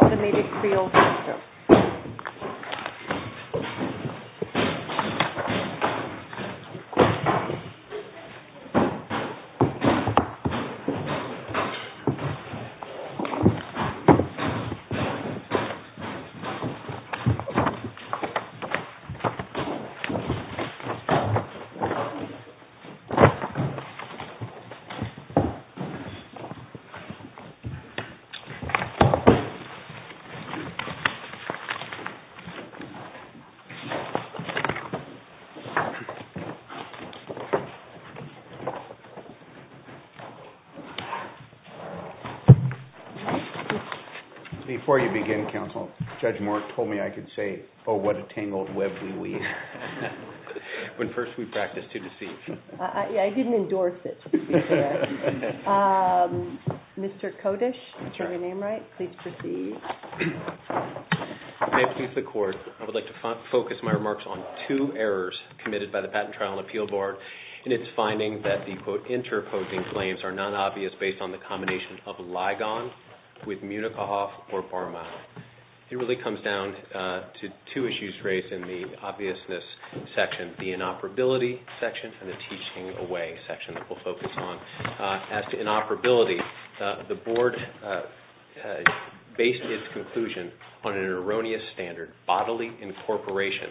Automated Creel Systems Before you begin counsel, Judge Moore told me I could say oh what a tangled web we weave. When first we practiced, too deceived. I didn't endorse it. Mr. Kodesh, I'm sorry, did I get your name right? Please proceed. I would like to focus my remarks on two errors committed by the Patent Trial and Appeal Board in its finding that the quote interposing claims are non-obvious based on the combination of Ligon with Munichhoff or Barma. It really comes down to two issues raised in the obviousness section, the inoperability section and the teaching away section that we'll focus on. As to inoperability, the board based its conclusion on an erroneous standard bodily incorporation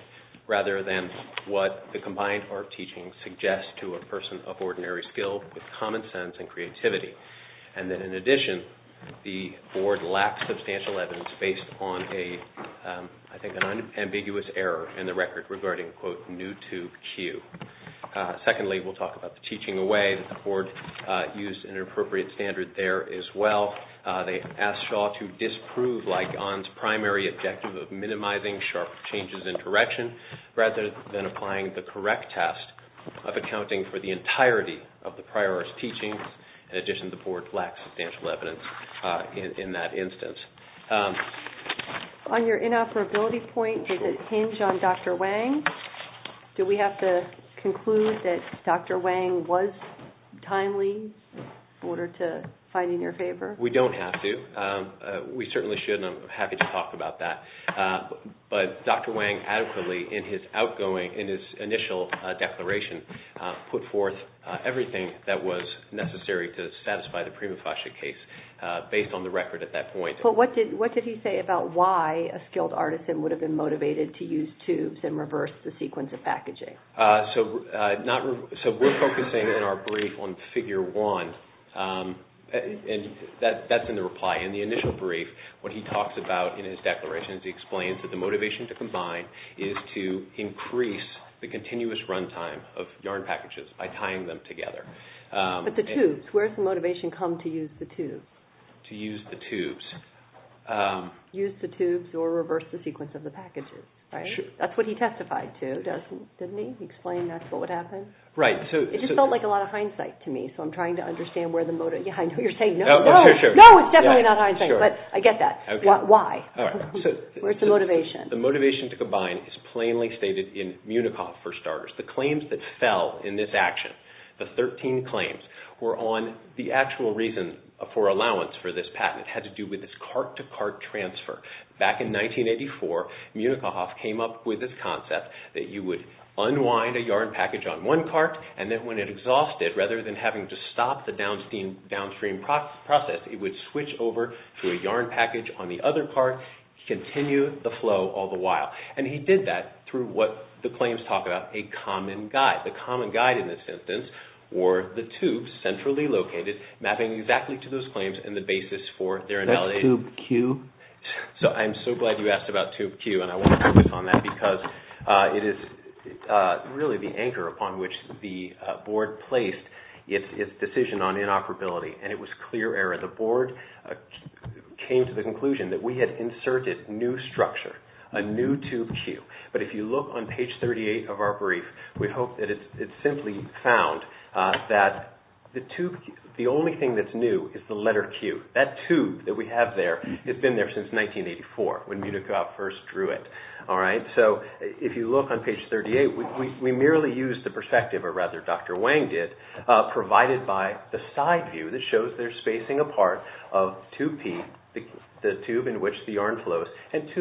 rather than what the combined art of teaching suggests to a person of ordinary skill with common sense and creativity. And then in addition, the board lacked substantial evidence based on I think an ambiguous error in the record regarding quote new to Q. Secondly, we'll talk about the teaching away that the board used an inappropriate standard there as well. They asked Shaw to disprove Ligon's primary objective of minimizing sharp changes in direction rather than applying the correct test of accounting for the entirety of the prior arts teachings. In addition, the board lacked substantial evidence in that instance. On your inoperability point, does it hinge on Dr. Wang? Do we have to conclude that Dr. Wang was timely in order to find in your favor? We don't have to. We certainly should and I'm happy to talk about that. But Dr. Wang adequately in his outgoing, in his initial declaration, put forth everything that was necessary to satisfy the prima facie case based on the record at that point. But what did he say about why a skilled artisan would have been motivated to use tubes and reverse the sequence of packaging? So we're focusing in our brief on figure one and that's in the reply. In the initial brief, what he talks about in his declaration is he explains that the motivation to combine is to increase the continuous run time of yarn packages by tying them together. But the tubes, where's the motivation come to use the tubes? Use the tubes or reverse the sequence of the packages. That's what he testified to, didn't he? He explained that's what would happen? Right. It just felt like a lot of hindsight to me, so I'm trying to understand where the motive, I know you're saying no, no, no, it's definitely not hindsight, but I get that. Why? Where's the motivation? The motivation to combine is plainly stated in Municoff, for starters. The claims that fell in this action, the 13 claims, were on the actual reason for allowing the use of this patent. It had to do with this cart-to-cart transfer. Back in 1984, Municoff came up with this concept that you would unwind a yarn package on one cart and that when it exhausted, rather than having to stop the downstream process, it would switch over to a yarn package on the other cart, continue the flow all the while. And he did that through what the claims talk about, a common guide. The common guide in this instance were the tubes centrally located, mapping exactly to those claims and the basis for their invalidation. Is that tube Q? I'm so glad you asked about tube Q, and I want to focus on that because it is really the anchor upon which the board placed its decision on inoperability, and it was clear error. The board came to the conclusion that we had inserted new structure, a new tube Q. But if you look on page 38 of our brief, we hope that it simply found that the only thing that's new is the letter Q. That tube that we have there, it's been there since 1984 when Municoff first drew it. So if you look on page 38, we merely used the perspective, or rather Dr. Wang did, provided by the side view that shows their spacing apart of tube P, the tube in which the yarn extends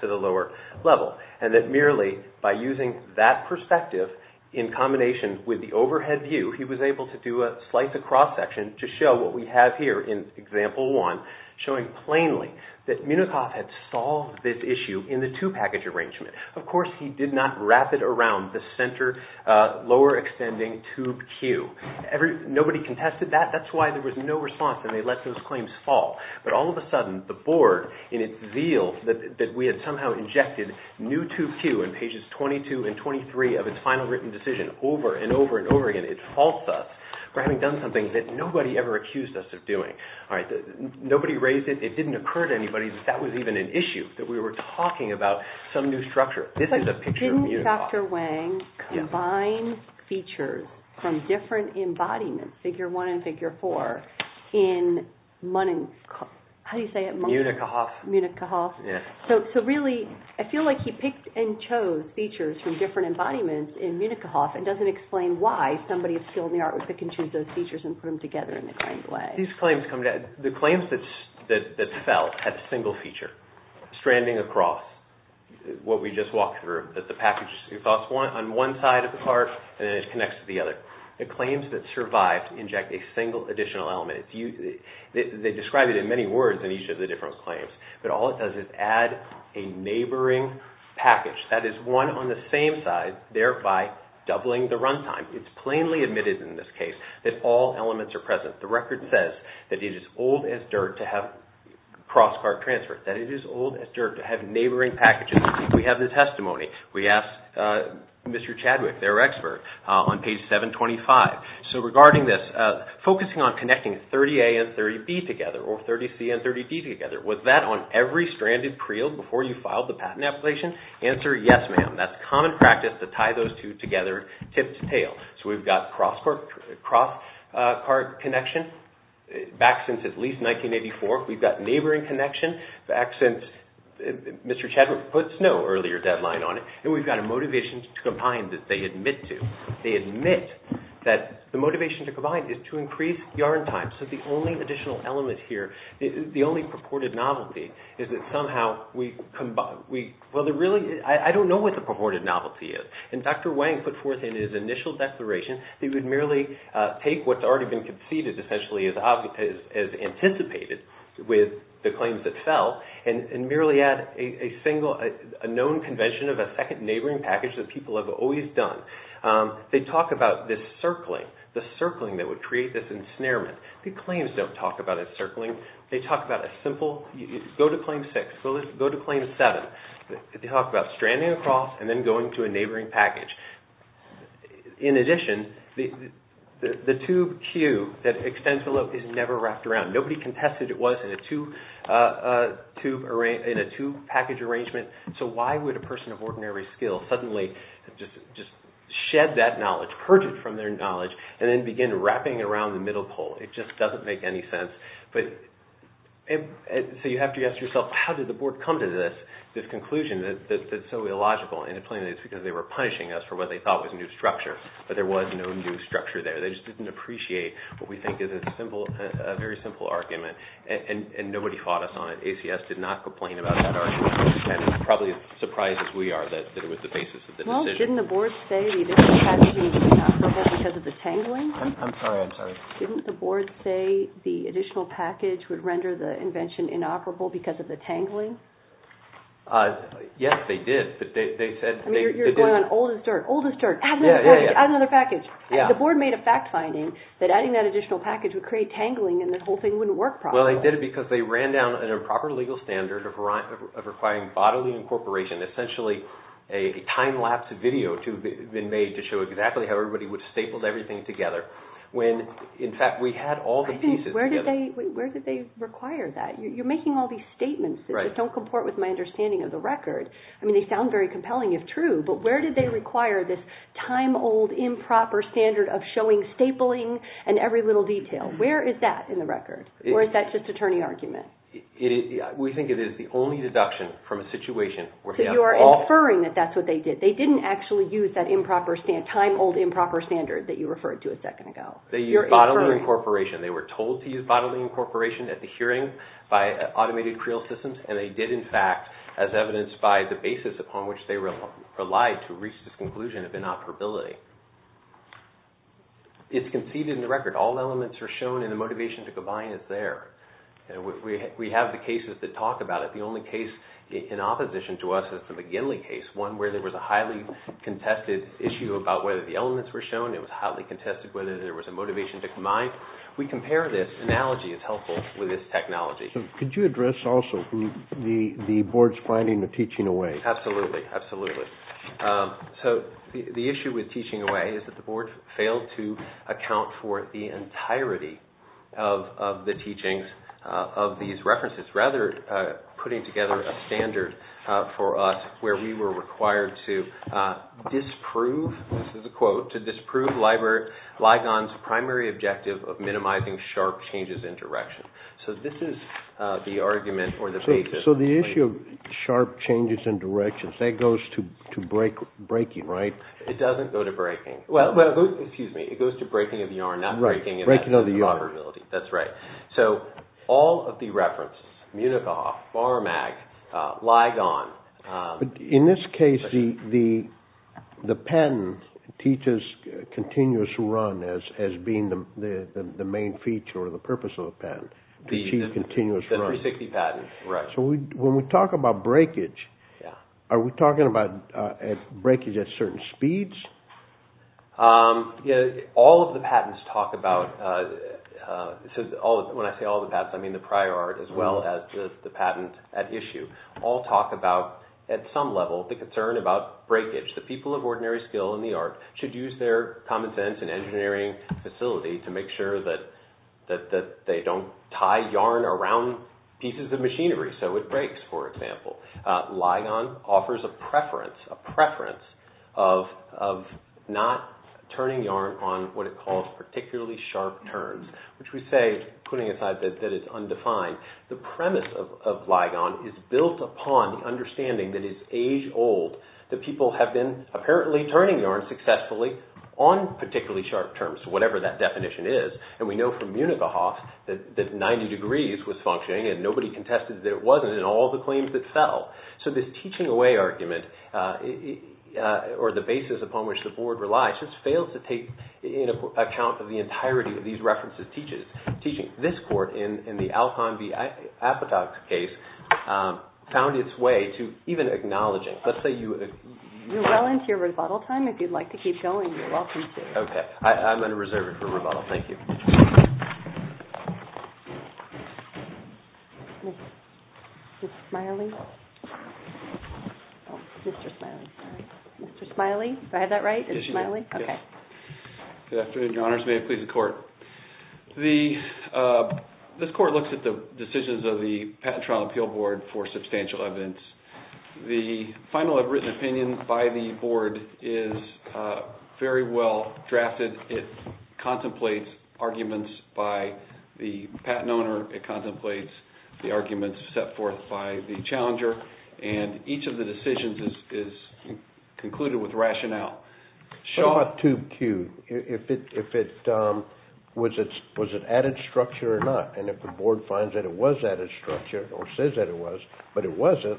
to the lower level. And that merely by using that perspective in combination with the overhead view, he was able to do a slice across section to show what we have here in example one, showing plainly that Municoff had solved this issue in the two package arrangement. Of course, he did not wrap it around the center lower extending tube Q. Nobody contested that. That's why there was no response and they let those claims fall. But all of a sudden, the board in its zeal that we had somehow injected new tube Q in pages 22 and 23 of its final written decision over and over and over again, it faults us for having done something that nobody ever accused us of doing. Nobody raised it. It didn't occur to anybody that that was even an issue, that we were talking about some new structure. This is a picture of Municoff. I think Dr. Wang combines features from different embodiments, figure one and figure four, in Municoff. So really, I feel like he picked and chose features from different embodiments in Municoff and doesn't explain why somebody with skill in the art would pick and choose those features and put them together in the kind of way. The claims that fell had a single feature stranding across what we just walked through. The package falls on one side of the car and then it connects to the other. The claims that survived inject a single additional element. They describe it in many words in each of the different claims, but all it does is add a neighboring package. That is one on the same side, thereby doubling the run time. It's plainly admitted in this case that all elements are present. The record says that it is old as dirt to have cross car transfers, that it is old as dirt to have neighboring packages. We have the testimony. We asked Mr. Chadwick, their expert, on page 725. So regarding this, focusing on connecting 30A and 30B together or 30C and 30D together, was that on every stranded creel before you filed the patent application? Answer, yes, ma'am. That's common practice to tie those two together, tip to tail. So we've got cross car connection back since at least 1984. We've got neighboring connection back since Mr. Chadwick puts no earlier deadline on it. And we've got a motivation to combine that they admit to. They admit that the motivation to combine is to increase yarn time. So the only additional element here, the only purported novelty, is that somehow we combine. Well, I don't know what the purported novelty is. And Dr. Wang put forth in his initial declaration that he would merely take what's already been conceded, essentially, as anticipated with the claims that fell, and merely add a known convention of a second neighboring package that people have always done. They talk about this circling, the circling that would create this ensnarement. The claims don't talk about a circling. They talk about a simple, go to claim 6, go to claim 7. They talk about stranding across and then going to a neighboring package. In addition, the tube Q that extends below is never wrapped around. Nobody contested it was in a tube package arrangement. So why would a person of ordinary skill suddenly just shed that knowledge, purge it from their knowledge, and then begin wrapping it around the middle pole? It just doesn't make any sense. So you have to ask yourself, how did the board come to this conclusion that's so illogical? And plainly, it's because they were punishing us for what they thought was new structure. But there was no new structure there. They just didn't appreciate what we think is a very simple argument. And nobody fought us on it. ACS did not complain about that argument. And probably as surprised as we are that it was the basis of the decision. Well, didn't the board say the additional package would be inoperable because of the tangling? I'm sorry. I'm sorry. Didn't the board say the additional package would render the invention inoperable because of the tangling? Yes, they did. You're going on old as dirt. Old as dirt. Add another package. Add another package. The board made a fact finding that adding that additional package would create tangling and the whole thing wouldn't work properly. Well, they did it because they ran down an improper legal standard of requiring bodily incorporation, essentially a time-lapse video to have been made to show exactly how everybody would have stapled everything together, when in fact we had all the pieces together. Where did they require that? You're making all these statements that just don't comport with my understanding of the record. I mean, they sound very compelling if true, but where did they require this time-old improper standard of showing stapling and every little detail? Where is that in the record? Or is that just a turning argument? We think it is the only deduction from a situation where they have all... So you are inferring that that's what they did. They didn't actually use that time-old improper standard that you referred to a second ago. They used bodily incorporation. They did, in fact, as evidenced by the basis upon which they relied to reach this conclusion of inoperability. It's conceded in the record. All elements are shown and the motivation to combine is there. We have the cases that talk about it. The only case in opposition to us is the McGinley case, one where there was a highly contested issue about whether the elements were shown. It was highly contested whether there was a motivation to combine. We compare this. Analogy is helpful with this technology. Could you address also the board's finding of teaching away? Absolutely. Absolutely. So the issue with teaching away is that the board failed to account for the entirety of the teachings of these references, rather putting together a standard for us where we were required to disprove, this is a quote, to disprove Ligon's primary objective of minimizing sharp changes in direction. So this is the argument or the basis. So the issue of sharp changes in direction, that goes to breaking, right? It doesn't go to breaking. Well, excuse me. It goes to breaking of yarn, not breaking of improper ability. That's right. So all of the references, Munichhof, Barmag, Ligon. In this case, the patent teaches continuous run as being the main feature or the purpose of the patent, to achieve continuous run. The 360 patent, right. So when we talk about breakage, are we talking about breakage at certain speeds? All of the patents talk about, when I say all the patents, I mean the prior art as well as the patent at issue, all talk about, at some level, the concern about breakage. The people of ordinary skill in the art should use their common sense and engineering facility to make sure that they don't tie yarn around pieces of machinery so it breaks, for example. Ligon offers a preference, a preference of not turning yarn on what it calls particularly sharp turns, which we say, putting aside that it's undefined. The premise of Ligon is built upon the understanding that it's age old, that people have been apparently turning yarn successfully on particularly sharp turns, whatever that definition is, and we know from Munichhof that 90 degrees was functioning and nobody contested that it wasn't in all the claims that fell. So this teaching away argument, or the basis upon which the board relies, just fails to take into account the entirety of these references teaches. Teaching. This court in the Alcon v. Apatow case found its way to even acknowledging. Let's say you— You're well into your rebuttal time. If you'd like to keep going, you're welcome to. Okay. I'm going to reserve it for rebuttal. Thank you. Mr. Smiley? Mr. Smiley, sorry. Mr. Smiley? Did I have that right? Yes, you did. Okay. Good afternoon, Your Honors. May it please the court. This court looks at the decisions of the Patent Trial Appeal Board for substantial evidence. The final written opinion by the board is very well drafted. It contemplates arguments by the patent owner. It contemplates the arguments set forth by the challenger. And each of the decisions is concluded with rationale. What about tube Q? Was it added structure or not? And if the board finds that it was added structure, or says that it was, but it wasn't,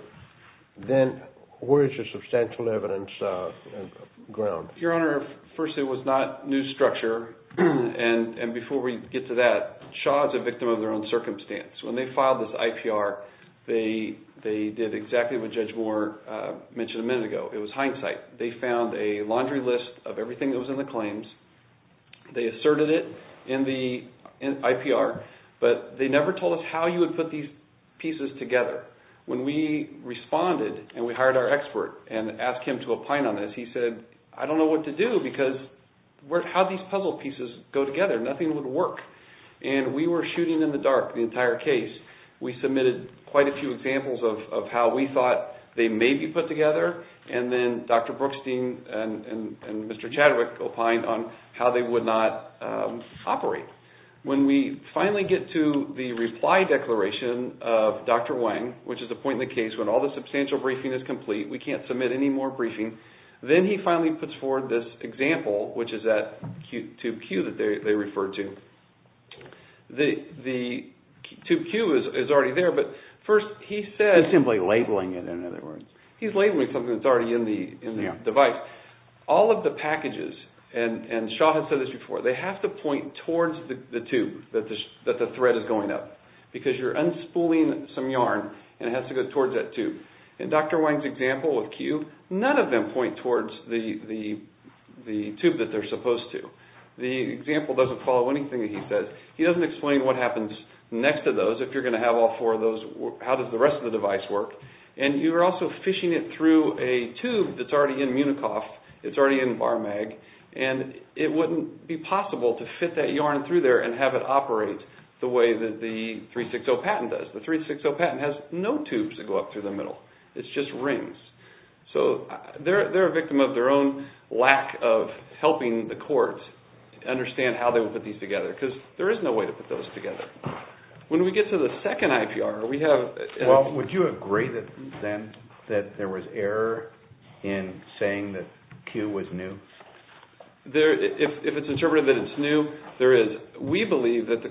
then where is your substantial evidence ground? Your Honor, first, it was not new structure. And before we get to that, Shaw is a victim of their own circumstance. When they filed this IPR, they did exactly what Judge Moore mentioned a minute ago. It was hindsight. They found a laundry list of everything that was in the claims. They asserted it in the IPR, but they never told us how you would put these pieces together. When we responded and we hired our expert and asked him to opine on this, he said, I don't know what to do because how do these puzzle pieces go together? Nothing would work. And we were shooting in the dark the entire case. We submitted quite a few examples of how we thought they may be put together, and then Dr. Brookstein and Mr. Chadwick opined on how they would not operate. When we finally get to the reply declaration of Dr. Wang, which is the point in the case when all the substantial briefing is complete, we can't submit any more briefing, then he finally puts forward this example, which is that tube Q that they referred to. The tube Q is already there, but first he said… He's simply labeling it, in other words. He's labeling something that's already in the device. All of the packages, and Shaw has said this before, they have to point towards the tube that the thread is going up, because you're unspooling some yarn and it has to go towards that tube. In Dr. Wang's example with Q, none of them point towards the tube that they're supposed to. The example doesn't follow anything that he says. He doesn't explain what happens next to those. If you're going to have all four of those, how does the rest of the device work? And you're also fishing it through a tube that's already in Municoff. It's already in BarMag, and it wouldn't be possible to fit that yarn through there and have it operate the way that the 360 patent does. The 360 patent has no tubes that go up through the middle. It's just rings. So they're a victim of their own lack of helping the courts understand how they would put these together, because there is no way to put those together. When we get to the second IPR, we have… Well, would you agree then that there was error in saying that Q was new? If it's interpreted that it's new, there is. We believe that the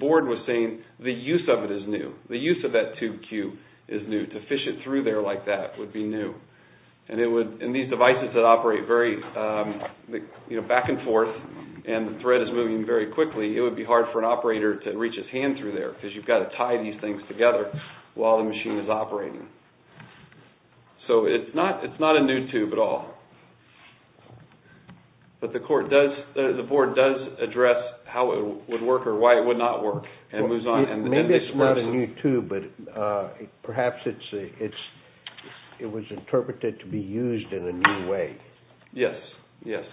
board was saying the use of it is new. The use of that tube Q is new. To fish it through there like that would be new. And these devices that operate back and forth and the thread is moving very quickly, it would be hard for an operator to reach his hand through there because you've got to tie these things together while the machine is operating. So it's not a new tube at all. But the board does address how it would work or why it would not work. Maybe it's not a new tube, but perhaps it was interpreted to be used in a new way. Yes, yes.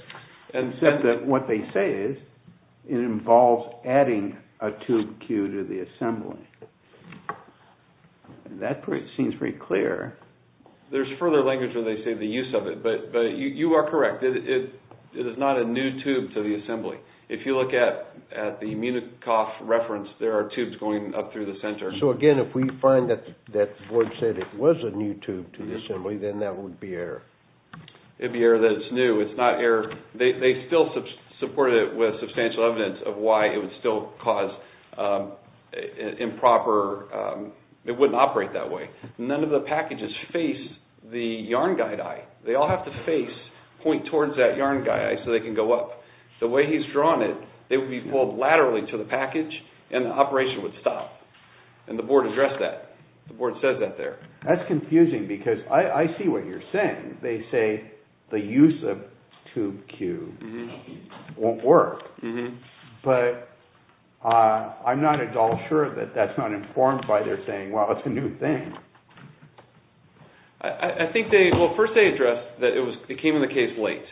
Except that what they say is it involves adding a tube Q to the assembly. That seems pretty clear. There's further language where they say the use of it. But you are correct. It is not a new tube to the assembly. If you look at the Municoff reference, there are tubes going up through the center. So again, if we find that the board said it was a new tube to the assembly, then that would be error. It would be error that it's new. They still supported it with substantial evidence of why it would still cause improper… It wouldn't operate that way. None of the packages face the yarn guide eye. They all have to face, point towards that yarn guide eye so they can go up. The way he's drawn it, they would be pulled laterally to the package and the operation would stop. And the board addressed that. The board says that there. That's confusing because I see what you're saying. They say the use of tube Q won't work. But I'm not at all sure that that's not informed by their saying, well, it's a new thing. I think they, well, first they addressed that it came in the case late.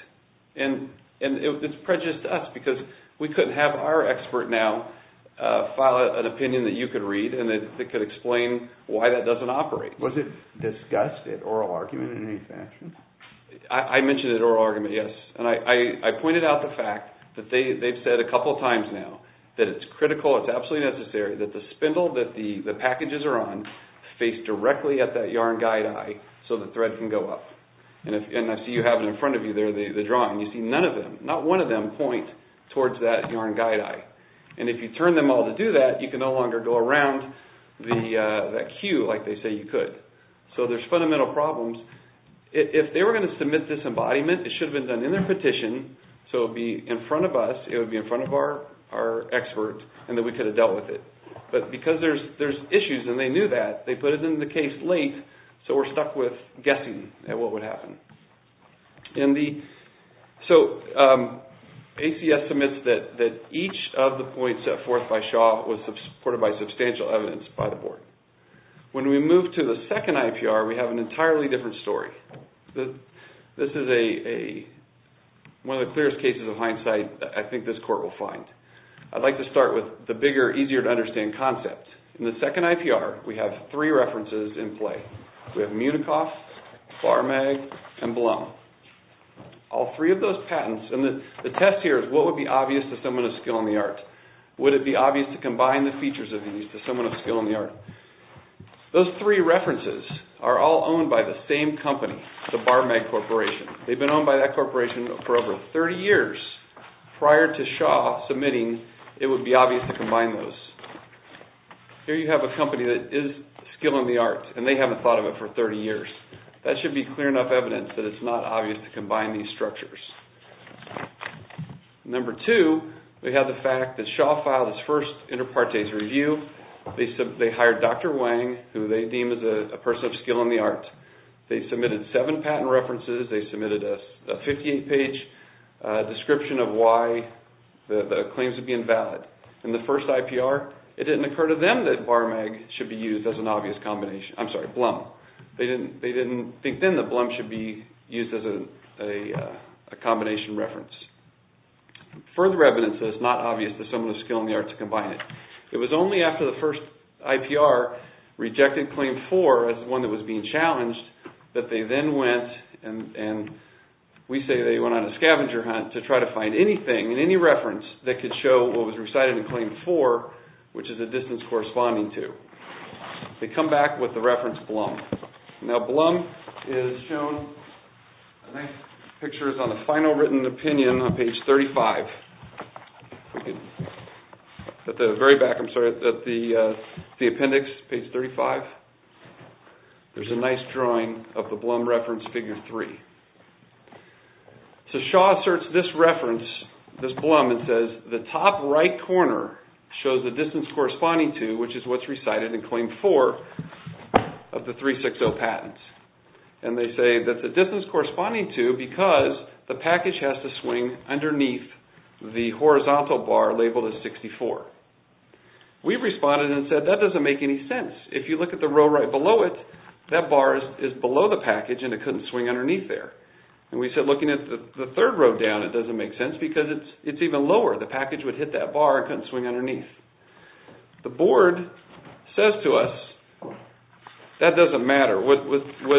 And it's prejudiced to us because we couldn't have our expert now file an opinion that you could read and that could explain why that doesn't operate. Was it discussed at oral argument in any fashion? I mentioned it at oral argument, yes. And I pointed out the fact that they've said a couple times now that it's critical, it's absolutely necessary that the spindle that the packages are on face directly at that yarn guide eye so the thread can go up. And I see you have it in front of you there, the drawing. You see none of them, not one of them point towards that yarn guide eye. And if you turn them all to do that, you can no longer go around that Q like they say you could. So there's fundamental problems. If they were going to submit this embodiment, it should have been done in their petition, so it would be in front of us, it would be in front of our expert, and then we could have dealt with it. But because there's issues and they knew that, they put it in the case late, so we're stuck with guessing at what would happen. So AC estimates that each of the points set forth by Shaw was supported by substantial evidence by the board. When we move to the second IPR, we have an entirely different story. This is one of the clearest cases of hindsight I think this court will find. I'd like to start with the bigger, easier to understand concept. In the second IPR, we have three references in play. We have Munikoff, Farmag, and Blum. All three of those patents, and the test here is what would be obvious to someone of skill in the art? Would it be obvious to combine the features of these to someone of skill in the art? Those three references are all owned by the same company, the Farmag Corporation. They've been owned by that corporation for over 30 years. Prior to Shaw submitting, it would be obvious to combine those. Here you have a company that is skill in the art, and they haven't thought of it for 30 years. That should be clear enough evidence that it's not obvious to combine these structures. Number two, we have the fact that Shaw filed his first inter partes review. They hired Dr. Wang, who they deemed as a person of skill in the art. They submitted seven patent references. They submitted a 58-page description of why the claims would be invalid. In the first IPR, it didn't occur to them that Farmag should be used as an obvious combination. I'm sorry, Blum. They didn't think then that Blum should be used as a combination reference. Further evidence that it's not obvious to someone of skill in the art to combine it. It was only after the first IPR rejected Claim 4 as one that was being challenged, that they then went, and we say they went on a scavenger hunt, to try to find anything and any reference that could show what was recited in Claim 4, which is the distance corresponding to. They come back with the reference Blum. Now, Blum is shown in pictures on the final written opinion on page 35. At the very back, I'm sorry, at the appendix, page 35, there's a nice drawing of the Blum reference, figure 3. Shaw asserts this reference, this Blum, and says, the top right corner shows the distance corresponding to, which is what's recited in Claim 4 of the 360 patents. They say that the distance corresponding to, because the package has to swing underneath the horizontal bar labeled as 64. We responded and said, that doesn't make any sense. If you look at the row right below it, that bar is below the package, and it couldn't swing underneath there. And we said, looking at the third row down, it doesn't make sense, because it's even lower. The package would hit that bar and couldn't swing underneath. The board says to us, that doesn't matter. What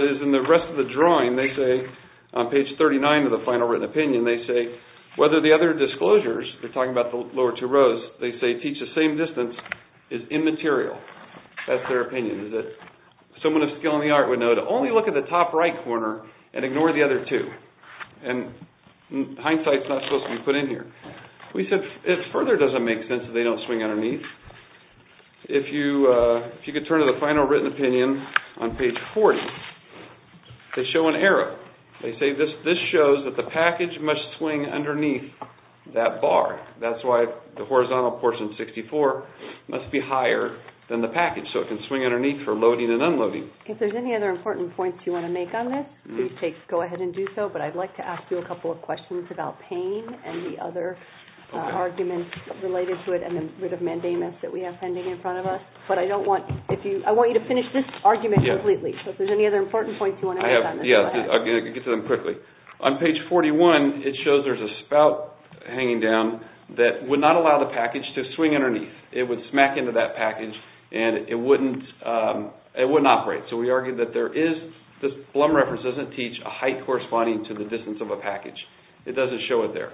is in the rest of the drawing, they say, on page 39 of the final written opinion, they say, whether the other disclosures, they're talking about the lower two rows, they say, teach the same distance, is immaterial. That's their opinion. Someone with skill in the art would know to only look at the top right corner and ignore the other two. And hindsight's not supposed to be put in here. We said, it further doesn't make sense that they don't swing underneath. If you could turn to the final written opinion on page 40, they show an error. They say, this shows that the package must swing underneath that bar. That's why the horizontal portion 64 must be higher than the package, so it can swing underneath for loading and unloading. If there's any other important points you want to make on this, please go ahead and do so. But I'd like to ask you a couple of questions about pain and the other arguments related to it, and the writ of mandamus that we have pending in front of us. But I want you to finish this argument completely, so if there's any other important points you want to make on this, go ahead. Yeah, I'll get to them quickly. On page 41, it shows there's a spout hanging down that would not allow the package to swing underneath. It would smack into that package, and it wouldn't operate. So we argue that this Blum reference doesn't teach a height corresponding to the distance of a package. It doesn't show it there.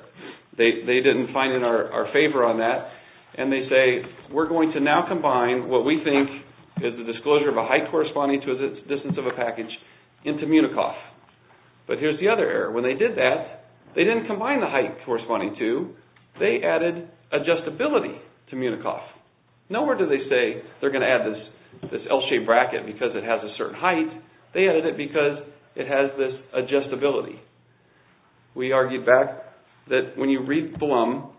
They didn't find in our favor on that, and they say, we're going to now combine what we think is the disclosure of a height corresponding to the distance of a package into Munikoff. But here's the other error. When they did that, they didn't combine the height corresponding to. They added adjustability to Munikoff. Nowhere do they say they're going to add this L-shaped bracket because it has a certain height. They added it because it has this adjustability. We argued back that when you read Blum,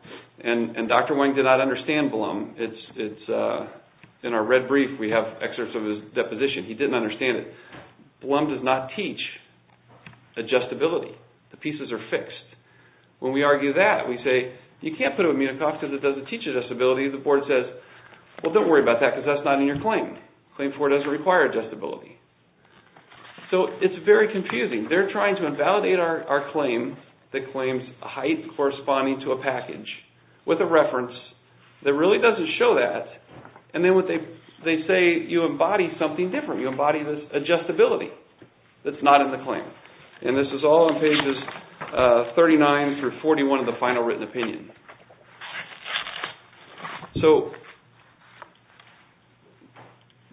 and Dr. Wang did not understand Blum, it's in our red brief we have excerpts of his deposition. He didn't understand it. Blum does not teach adjustability. The pieces are fixed. When we argue that, we say, you can't put it with Munikoff because it doesn't teach adjustability. The board says, well, don't worry about that because that's not in your claim. Claim 4 doesn't require adjustability. So it's very confusing. They're trying to invalidate our claim that claims height corresponding to a package with a reference that really doesn't show that. And then they say you embody something different. You embody this adjustability that's not in the claim. And this is all in pages 39 through 41 of the final written opinion. So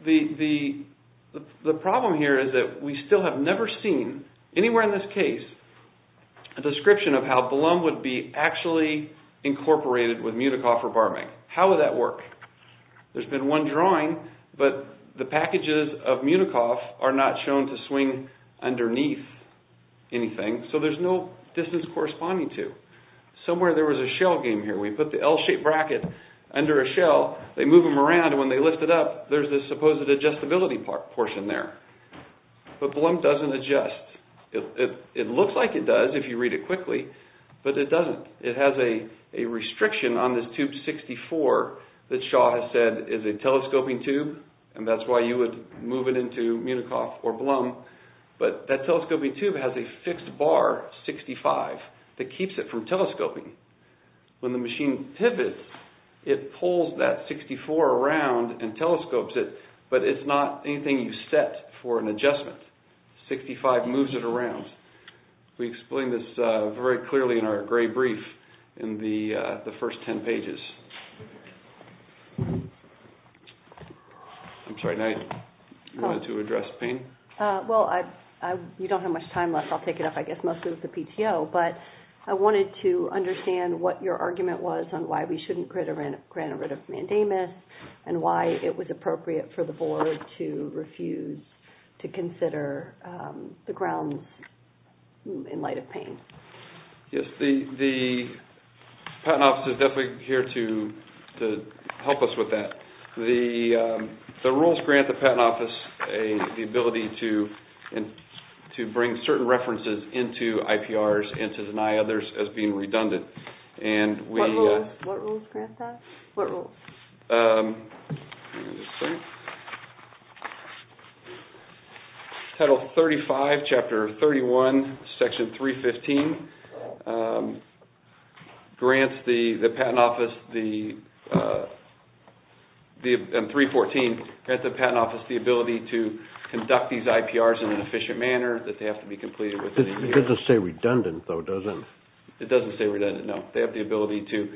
the problem here is that we still have never seen anywhere in this case a description of how Blum would be actually incorporated with Munikoff or Barming. How would that work? There's been one drawing, but the packages of Munikoff are not shown to swing underneath anything. So there's no distance corresponding to. Somewhere there was a shell game here. We put the L-shaped bracket under a shell. They move them around, and when they lift it up, there's this supposed adjustability portion there. But Blum doesn't adjust. It looks like it does if you read it quickly, but it doesn't. It has a restriction on this tube 64 that Shaw has said is a telescoping tube, and that's why you would move it into Munikoff or Blum. But that telescoping tube has a fixed bar 65 that keeps it from telescoping. When the machine pivots, it pulls that 64 around and telescopes it, but it's not anything you set for an adjustment. 65 moves it around. We explain this very clearly in our gray brief in the first 10 pages. I'm sorry, now you wanted to address Payne? Well, you don't have much time left. I'll take it up, I guess, mostly with the PTO, but I wanted to understand what your argument was on why we shouldn't grant a writ of mandamus and why it was appropriate for the Board to refuse to consider the grounds in light of Payne. Yes, the Patent Office is definitely here to help us with that. The rules grant the Patent Office the ability to bring certain references into IPRs and to deny others as being redundant. What rules grant that? What rules? Let me just see. Title 35, Chapter 31, Section 315 grants the Patent Office, and 314 grants the Patent Office the ability to conduct these IPRs in an efficient manner that they have to be completed within a year. It doesn't say redundant, though, does it? It doesn't say redundant, no. They have the ability to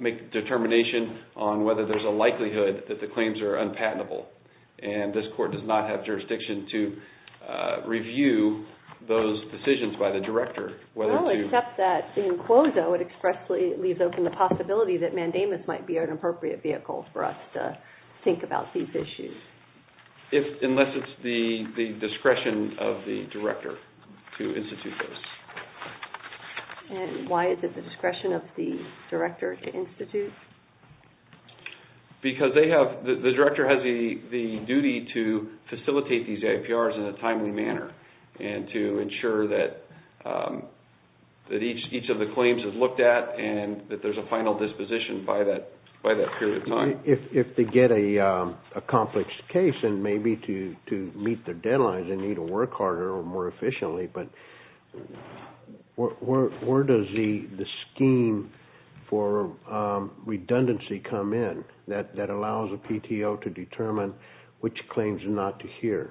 make a determination on whether there's a likelihood that the claims are unpatentable, and this Court does not have jurisdiction to review those decisions by the Director. Well, except that in quosa it expressly leaves open the possibility that mandamus might be an appropriate vehicle for us to think about these issues. Unless it's the discretion of the Director to institute this. Why is it the discretion of the Director to institute? Because the Director has the duty to facilitate these IPRs in a timely manner and to ensure that each of the claims is looked at and that there's a final disposition by that period of time. If they get a complex case, then maybe to meet their deadlines, they need to work harder or more efficiently, but where does the scheme for redundancy come in that allows a PTO to determine which claims are not to hear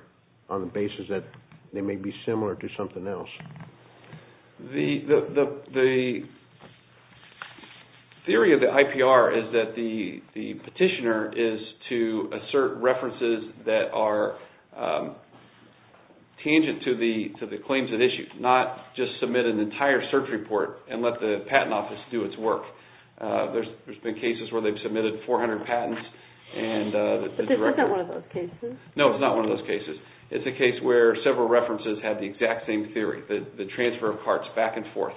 on the basis that they may be similar to something else? The theory of the IPR is that the petitioner is to assert references that are tangent to the claims at issue, not just submit an entire search report and let the Patent Office do its work. There's been cases where they've submitted 400 patents. But that's not one of those cases. No, it's not one of those cases. It's a case where several references have the exact same theory, the transfer of parts back and forth,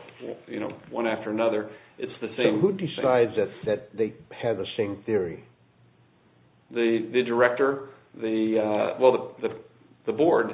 one after another. So who decides that they have the same theory? The Director. Well, the Board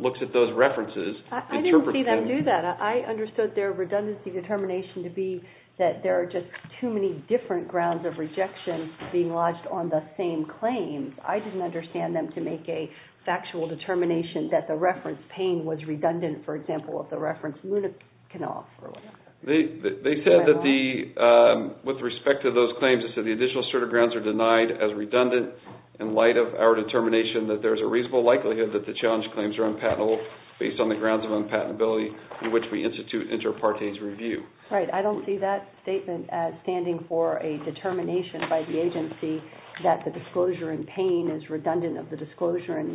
looks at those references. I didn't see them do that. I understood their redundancy determination to be that there are just too many different grounds of rejection being lodged on the same claims. I didn't understand them to make a factual determination that the reference pain was redundant, for example, if the reference luna canoff or whatever. They said that with respect to those claims, they said the additional sort of grounds are denied as redundant in light of our determination that there's a reasonable likelihood that the challenge claims are unpatentable based on the grounds of unpatentability in which we institute inter partes review. Right. I don't see that statement as standing for a determination by the agency that the disclosure in pain is redundant of the disclosure in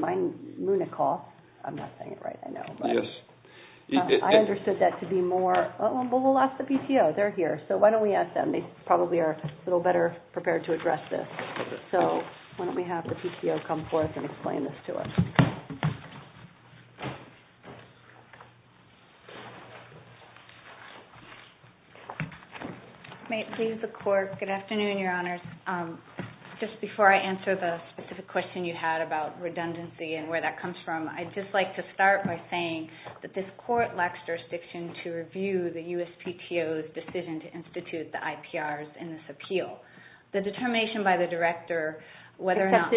luna canoff. I'm not saying it right, I know. Yes. I understood that to be more, well, we'll ask the PTO. They're here, so why don't we ask them? They probably are a little better prepared to address this. So why don't we have the PTO come forth and explain this to us. May it please the Court. Good afternoon, Your Honors. Just before I answer the specific question you had about redundancy and where that comes from, I'd just like to start by saying that this court lacks jurisdiction to review the USPTO's decision to institute the IPRs in this appeal. The determination by the director, whether or not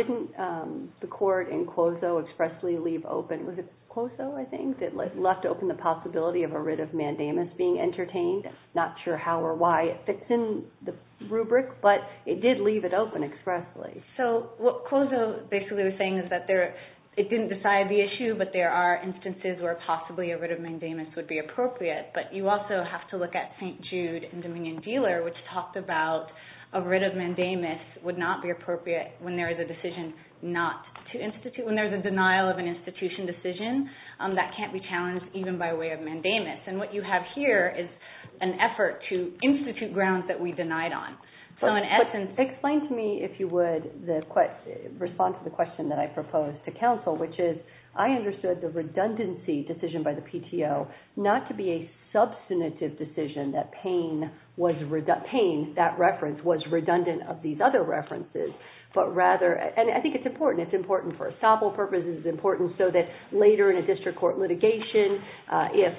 the court in Cuozo expressly leave open, was it Cuozo, I think, that left open the possibility of a writ of mandamus being entertained? I'm not sure how or why it fits in the rubric, but it did leave it open expressly. So what Cuozo basically was saying is that it didn't decide the issue, but there are instances where possibly a writ of mandamus would be appropriate. But you also have to look at St. Jude and Dominion Dealer, which talked about a writ of mandamus would not be appropriate when there is a decision not to institute, when there's a denial of an institution decision that can't be challenged even by way of mandamus. And what you have here is an effort to institute grounds that we denied on. So in essence... Explain to me, if you would, the response to the question that I proposed to counsel, which is I understood the redundancy decision by the PTO not to be a substantive decision that Payne, that reference, was redundant of these other references, but rather, and I think it's important, it's important for estoppel purposes, it's important so that later in a district court litigation, if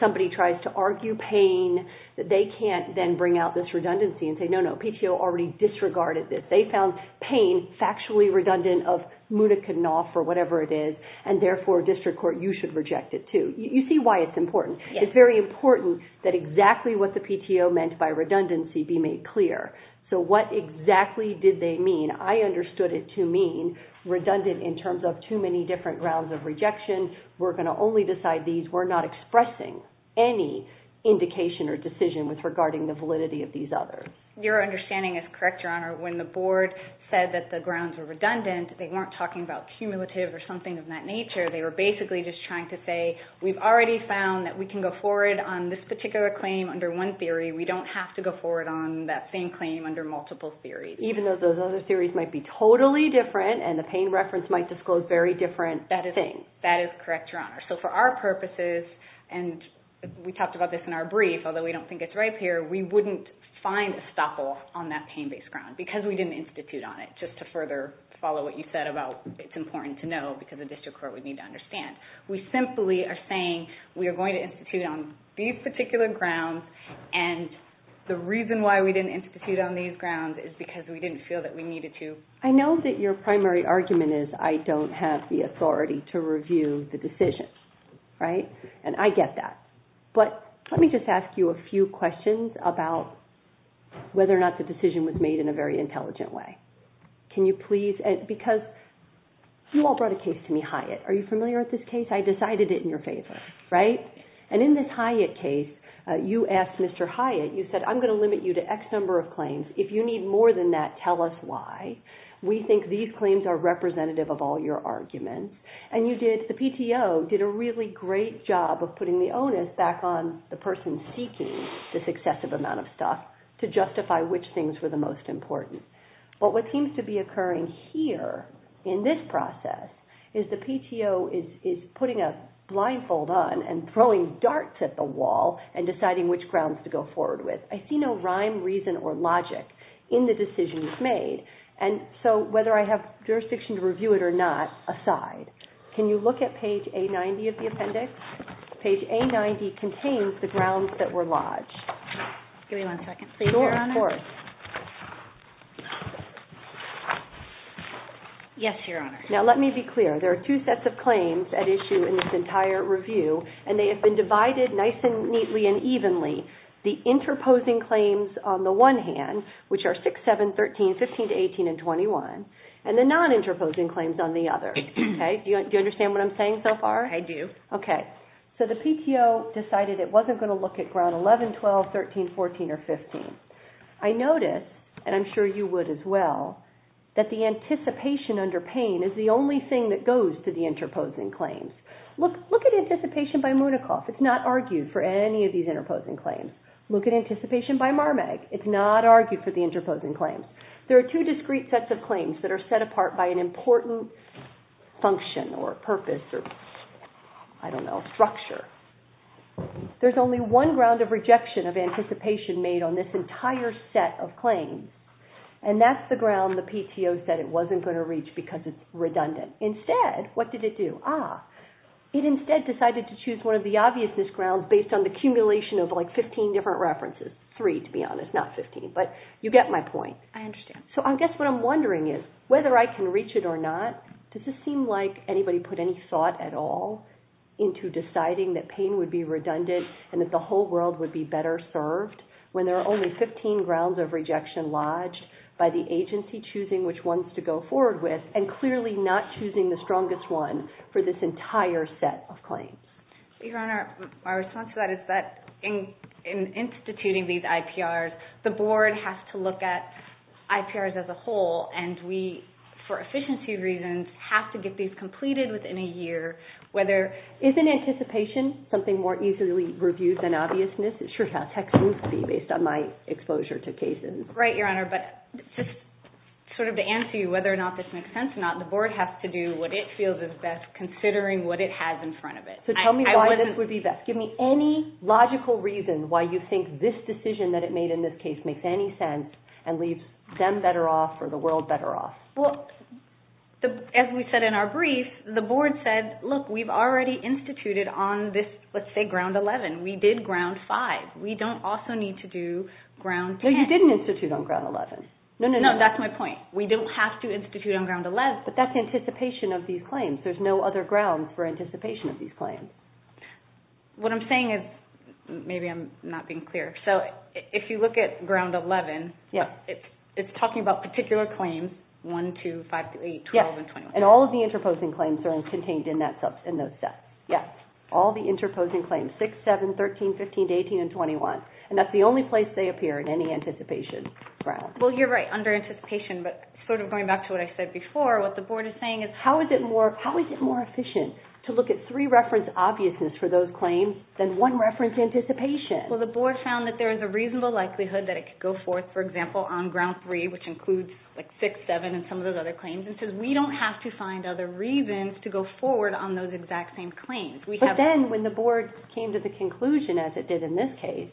somebody tries to argue Payne, that they can't then bring out this redundancy and say, no, no, PTO already disregarded this. They found Payne factually redundant of Munikanov or whatever it is, and therefore district court, you should reject it too. You see why it's important. It's very important that exactly what the PTO meant by redundancy be made clear. So what exactly did they mean? I understood it to mean redundant in terms of too many different grounds of rejection. We're going to only decide these. We're not expressing any indication or decision regarding the validity of these others. Your understanding is correct, Your Honor. When the board said that the grounds were redundant, they weren't talking about cumulative or something of that nature. They were basically just trying to say, we've already found that we can go forward on this particular claim under one theory. We don't have to go forward on that same claim under multiple theories. Even though those other theories might be totally different and the Payne reference might disclose very different things. That is correct, Your Honor. So for our purposes, and we talked about this in our brief, although we don't think it's right here, we wouldn't find a stoppel on that Payne-based ground because we didn't institute on it. Just to further follow what you said about it's important to know because the district court would need to understand. We simply are saying we are going to institute on these particular grounds, and the reason why we didn't institute on these grounds is because we didn't feel that we needed to. I know that your primary argument is, I don't have the authority to review the decision, right? And I get that. But let me just ask you a few questions about whether or not the decision was made in a very intelligent way. Can you please, because you all brought a case to me, Hyatt. Are you familiar with this case? I decided it in your favor, right? And in this Hyatt case, you asked Mr. Hyatt, you said, I'm going to limit you to X number of claims. If you need more than that, tell us why. We think these claims are representative of all your arguments. And you did, the PTO did a really great job of putting the onus back on the person seeking this excessive amount of stuff to justify which things were the most important. But what seems to be occurring here in this process is the PTO is putting a blindfold on and throwing darts at the wall and deciding which grounds to go forward with. I see no rhyme, reason, or logic in the decisions made. And so whether I have jurisdiction to review it or not, aside. Can you look at page A90 of the appendix? Page A90 contains the grounds that were lodged. Give me one second, please, Your Honor. Sure, of course. Yes, Your Honor. Now, let me be clear. There are two sets of claims at issue in this entire review, and they have been divided nice and neatly and evenly. The interposing claims on the one hand, which are 6, 7, 13, 15, 18, and 21, and the non-interposing claims on the other. Okay? Do you understand what I'm saying so far? I do. Okay. So the PTO decided it wasn't going to look at ground 11, 12, 13, 14, or 15. I notice, and I'm sure you would as well, that the anticipation under pain is the only thing that goes to the interposing claims. Look at anticipation by Munochoff. It's not argued for any of these interposing claims. Look at anticipation by Marmag. It's not argued for the interposing claims. There are two discrete sets of claims that are set apart by an important function or purpose or, I don't know, structure. There's only one ground of rejection of anticipation made on this entire set of claims, and that's the ground the PTO said it wasn't going to reach because it's redundant. Instead, what did it do? Ah, it instead decided to choose one of the obviousness grounds based on the accumulation of, like, 15 different references. Three, to be honest, not 15. But you get my point. I understand. So I guess what I'm wondering is whether I can reach it or not, does it seem like anybody put any thought at all into deciding that pain would be redundant and that the whole world would be better served when there are only 15 grounds of rejection lodged by the agency choosing which ones to go forward with and clearly not choosing the strongest one for this entire set of claims? Your Honor, my response to that is that in instituting these IPRs, the board has to look at IPRs as a whole, and we, for efficiency reasons, have to get these completed within a year. Isn't anticipation something more easily reviewed than obviousness? It's just how technical it would be based on my exposure to cases. Right, Your Honor, but just sort of to answer you whether or not this makes sense or not, the board has to do what it feels is best considering what it has in front of it. So tell me why this would be best. Give me any logical reason why you think this decision that it made in this case makes any sense and leaves them better off or the world better off. Well, as we said in our brief, the board said, look, we've already instituted on this, let's say, Ground 11. We did Ground 5. We don't also need to do Ground 10. No, you didn't institute on Ground 11. No, that's my point. We don't have to institute on Ground 11, but that's anticipation of these claims. There's no other grounds for anticipation of these claims. What I'm saying is, maybe I'm not being clear, so if you look at Ground 11, it's talking about particular claims, 1, 2, 5, 8, 12, and 21. Yes, and all of the interposing claims are contained in those sets. Yes, all the interposing claims, 6, 7, 13, 15, 18, and 21, and that's the only place they appear in any anticipation ground. Well, you're right, under anticipation, but sort of going back to what I said before, what the board is saying is how is it more efficient to look at three reference obviousness for those claims than one reference anticipation? Well, the board found that there is a reasonable likelihood that it could go forth, for example, on Ground 3, which includes 6, 7, and some of those other claims, and says we don't have to find other reasons to go forward on those exact same claims. But then when the board came to the conclusion, as it did in this case,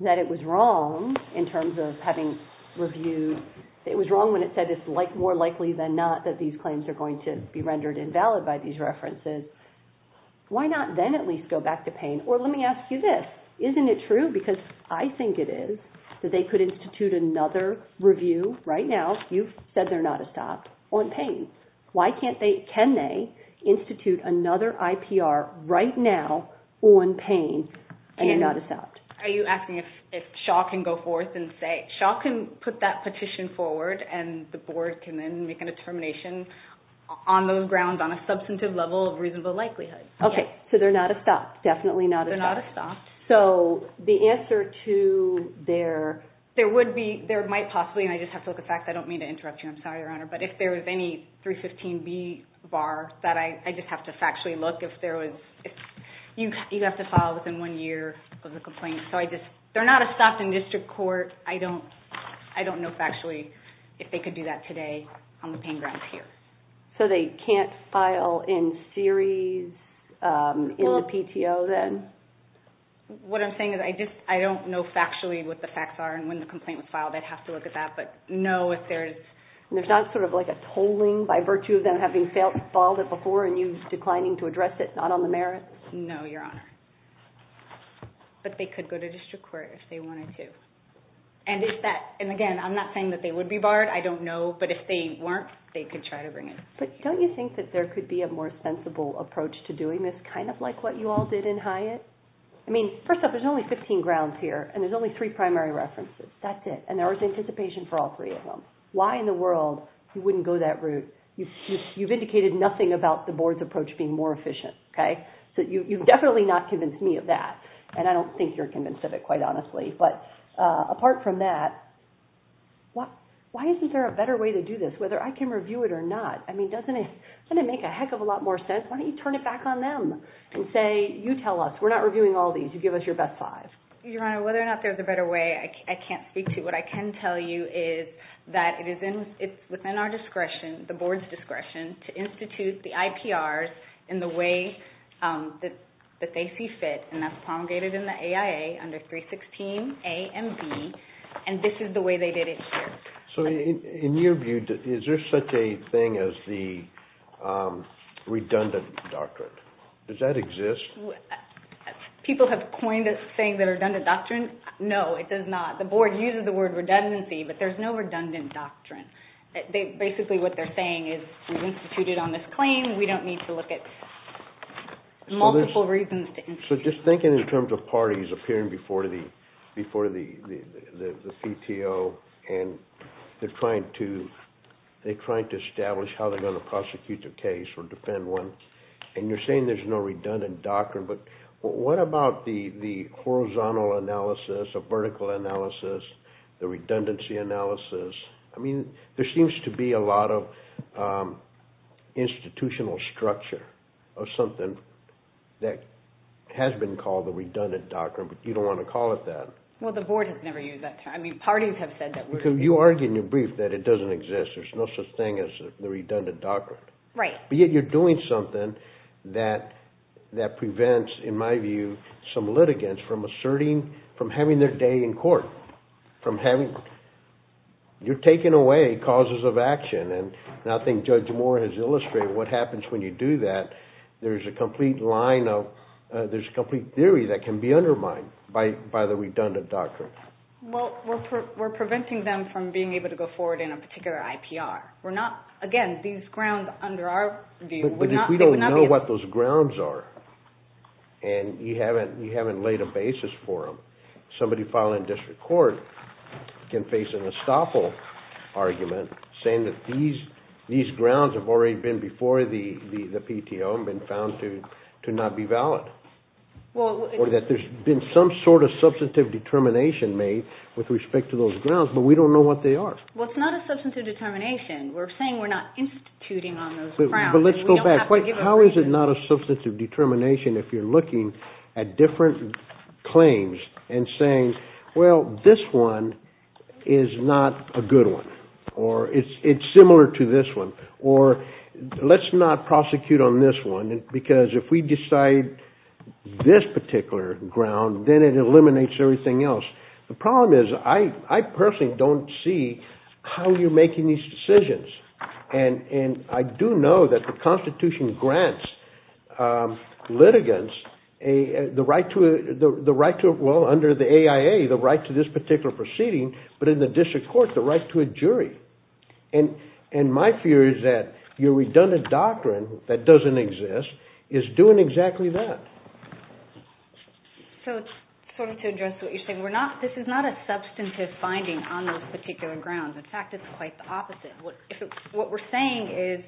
that it was wrong in terms of having reviewed, it was wrong when it said it's more likely than not that these claims are going to be rendered invalid by these references, why not then at least go back to PANE? Or let me ask you this, isn't it true, because I think it is, that they could institute another review right now, you've said they're not a stop, on PANE? Why can't they, can they, institute another IPR right now on PANE and they're not a stop? Are you asking if Shaw can go forth and say, Shaw can put that petition forward and the board can then make a determination on those grounds on a substantive level of reasonable likelihood. Okay, so they're not a stop, definitely not a stop. They're not a stop. So, the answer to their... There would be, there might possibly, and I just have to look at facts, I don't mean to interrupt you, I'm sorry, Your Honor, but if there was any 315B bar, that I just have to factually look, if there was, you have to file within one year of the complaint, so I just, they're not a stop in district court, I don't know factually if they could do that today on the PANE grounds here. So they can't file in series in the PTO then? What I'm saying is I just, I don't know factually what the facts are and when the complaint was filed, I'd have to look at that, but no, if there's... There's not sort of like a tolling by virtue of them having filed it before and you declining to address it, not on the merits? No, Your Honor. But they could go to district court if they wanted to. And if that, and again, I'm not saying that they would be barred, I don't know, but if they weren't, they could try to bring it. But don't you think that there could be a more sensible approach to doing this, kind of like what you all did in Hyatt? I mean, first off, there's only 15 grounds here and there's only three primary references. That's it. And there was anticipation for all three of them. Why in the world you wouldn't go that route? You've indicated nothing about the board's approach being more efficient. Okay? So you've definitely not convinced me of that. And I don't think you're convinced of it, quite honestly. But apart from that, why isn't there a better way to do this, whether I can review it or not? I mean, doesn't it make a heck of a lot more sense? Why don't you turn it back on them and say, you tell us, we're not reviewing all these, you give us your best five. Your Honor, whether or not there's a better way, I can't speak to. What I can tell you is that it's within our discretion, the board's discretion, to institute the IPRs in the way that they see fit and that's promulgated in the AIA under 316 A and B and this is the way they did it here. So in your view, is there such a thing as the redundant doctrine? Does that exist? People have coined it saying the redundant doctrine. No, it does not. The board uses the word redundancy, but there's no redundant doctrine. Basically what they're saying is we've instituted on this claim, we don't need to look at multiple reasons. So just thinking in terms of parties appearing before the CTO and they're trying to establish how they're going to prosecute the case or defend one, and you're saying there's no redundant doctrine, but what about the horizontal analysis, the vertical analysis, the redundancy analysis? There seems to be a lot of institutional structure of something that has been called the redundant doctrine, but you don't want to call it that. Well, the board has never used that term. Parties have said that word. Because you argue in your brief that it doesn't exist. There's no such thing as the redundant doctrine. Right. But yet you're doing something that prevents, in my view, some litigants from asserting, from having their day in court, from having, you're taking away causes of action and I think Judge Moore has illustrated what happens when you do that. There's a complete line of, there's a complete theory that can be undermined by the redundant doctrine. Well, we're preventing them from being able to go forward in a particular IPR. We're not, again, these grounds under our view, they would not be able to. But if we don't know what those grounds are and you haven't laid a basis for them, somebody filing in district court can face an estoppel argument saying that these grounds have already been before the PTO and been found to not be valid. Or that there's been some sort of substantive determination made with respect to those grounds, but we don't know what they are. Well, it's not a substantive determination. We're saying we're not instituting on those grounds. But let's go back. How is it not a substantive determination if you're looking at different claims and saying, well, this one is not a good one. Or it's similar to this one. Or let's not prosecute on this one because if we decide this particular ground, then it eliminates everything else. The problem is I personally don't see how you're making these decisions. And I do know that the Constitution grants litigants the right to, well, under the AIA, the right to this particular proceeding, but in the district court, the right to a jury. And my fear is that your redundant doctrine that doesn't exist is doing exactly that. So to address what you're saying, this is not a substantive finding on those particular grounds. In fact, it's quite the opposite. What we're saying is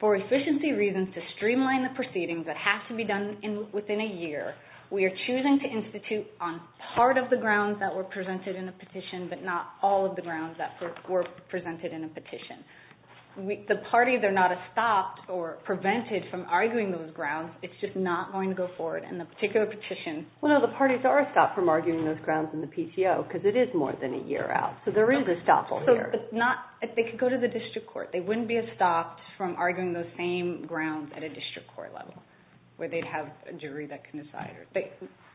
for efficiency reasons, to streamline the proceedings that have to be done within a year, we are choosing to institute on part of the grounds that were presented in a petition, but not all of the grounds that were presented in a petition. The parties are not stopped or prevented from arguing those grounds. It's just not going to go forward in the particular petition. Well, no, the parties are stopped from arguing those grounds in the PCO because it is more than a year out. So there is a stop all year. They could go to the district court. They wouldn't be stopped from arguing those same grounds at a district court level where they'd have a jury that can decide.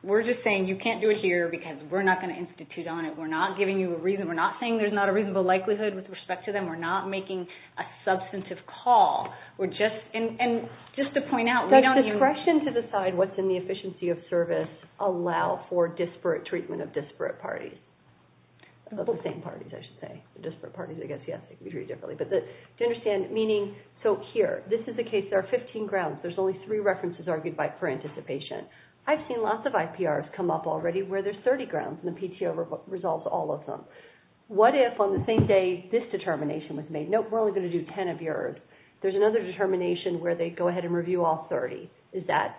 We're just saying you can't do it here because we're not going to institute on it. We're not giving you a reason. We're not saying there's not a reasonable likelihood with respect to them. We're not making a substantive call. We're just... And just to point out, we don't even... Does suppression to decide what's in the efficiency of service allow for disparate treatment of disparate parties? Of the same parties, I should say. Disparate parties, I guess, yes. They can be treated differently. But to understand, meaning... This is a case. There are 15 grounds. There's only three references argued for anticipation. I've seen lots of IPRs come up already where there's 30 grounds and the PTO resolves all of them. What if on the same day this determination was made? Nope, we're only going to do 10 of yours. There's another determination where they go ahead and review all 30. Is that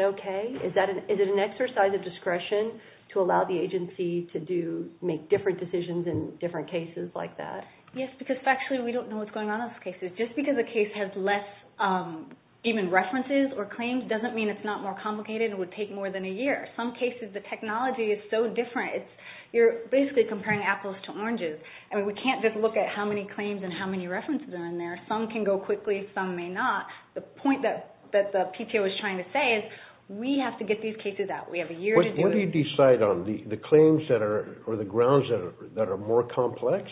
okay? Is it an exercise of discretion to allow the agency to make different decisions in different cases like that? Yes, because factually we don't know what's going on in those cases. Just because a case has less even references or claims doesn't mean it's not more complicated and would take more than a year. Some cases, the technology is so different. You're basically comparing apples to oranges. We can't just look at how many claims and how many references are in there. Some can go quickly, some may not. The point that the PTO is trying to say is we have to get these cases out. We have a year to do this. What do you decide on? The claims or the grounds that are more complex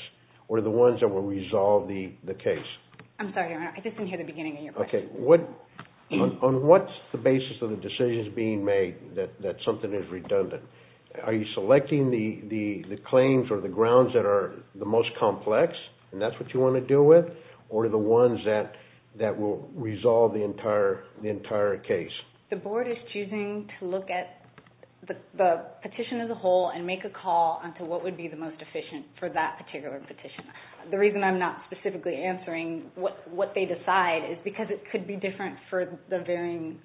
or the ones that will resolve the case? I'm sorry, Your Honor. I just didn't hear the beginning of your question. Okay. On what's the basis of the decisions being made that something is redundant? Are you selecting the claims or the grounds that are the most complex and that's what you want to deal with or the ones that will resolve the entire case? The Board is choosing to look at the petition as a whole and make a call on to what would be the most efficient for that particular petition. The reason I'm not specifically answering what they decide is because it could be different for the varying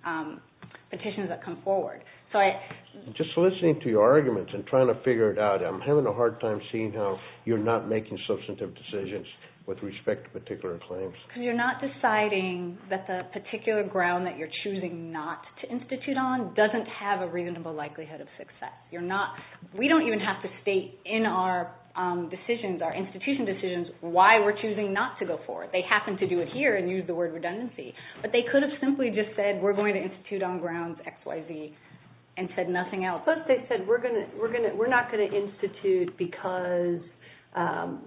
petitions that come forward. Just listening to your arguments and trying to figure it out, I'm having a hard time seeing how you're not making substantive decisions with respect to particular claims. Because you're not deciding that the particular ground that you're choosing not to institute on doesn't have a reasonable likelihood of success. We don't even have to state in our decisions, our institution decisions, why we're choosing not to go forward. They happen to do it here and use the word redundancy. But they could have simply just said we're going to institute on grounds XYZ and said nothing else. Suppose they said we're not going to institute because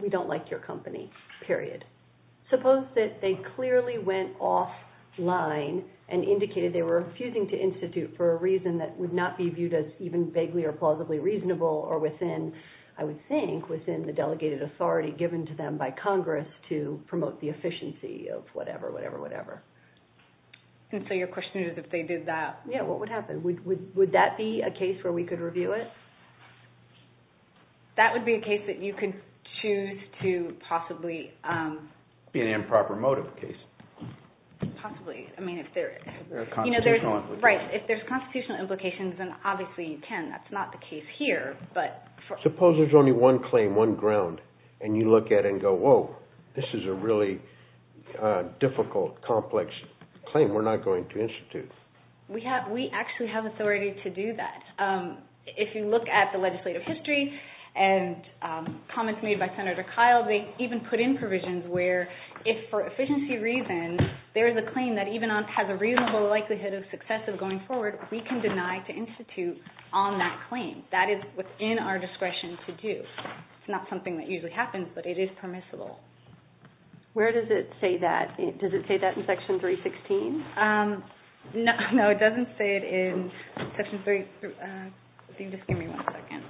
we don't like your company, period. Suppose that they clearly went offline and indicated they were refusing to institute for a reason that would not be viewed as even vaguely or plausibly reasonable or within, I would think, within the delegated authority given to them by Congress to promote the efficiency of whatever, whatever, whatever. Your question is if they did that, what would happen? Would that be a case where we could review it? That would be a case that you could choose to possibly... Be an improper motive case. Possibly. If there are constitutional implications. Right. If there are constitutional implications, then obviously you can. That's not the case here. Suppose there's only one claim, one ground, and you look at it and go, whoa, this is a really difficult, complex claim we're not going to institute. We actually have authority to do that. If you look at the legislative history and comments made by Senator Kyle, they even put in provisions where if for efficiency reasons there is a claim that even has a reasonable likelihood of success going forward, we can deny to institute on that claim. That is within our discretion to do. It's not something that usually happens, but it is permissible. Where does it say that? Does it say that in Section 316? No, it doesn't say it in Section 3... Just give me one second.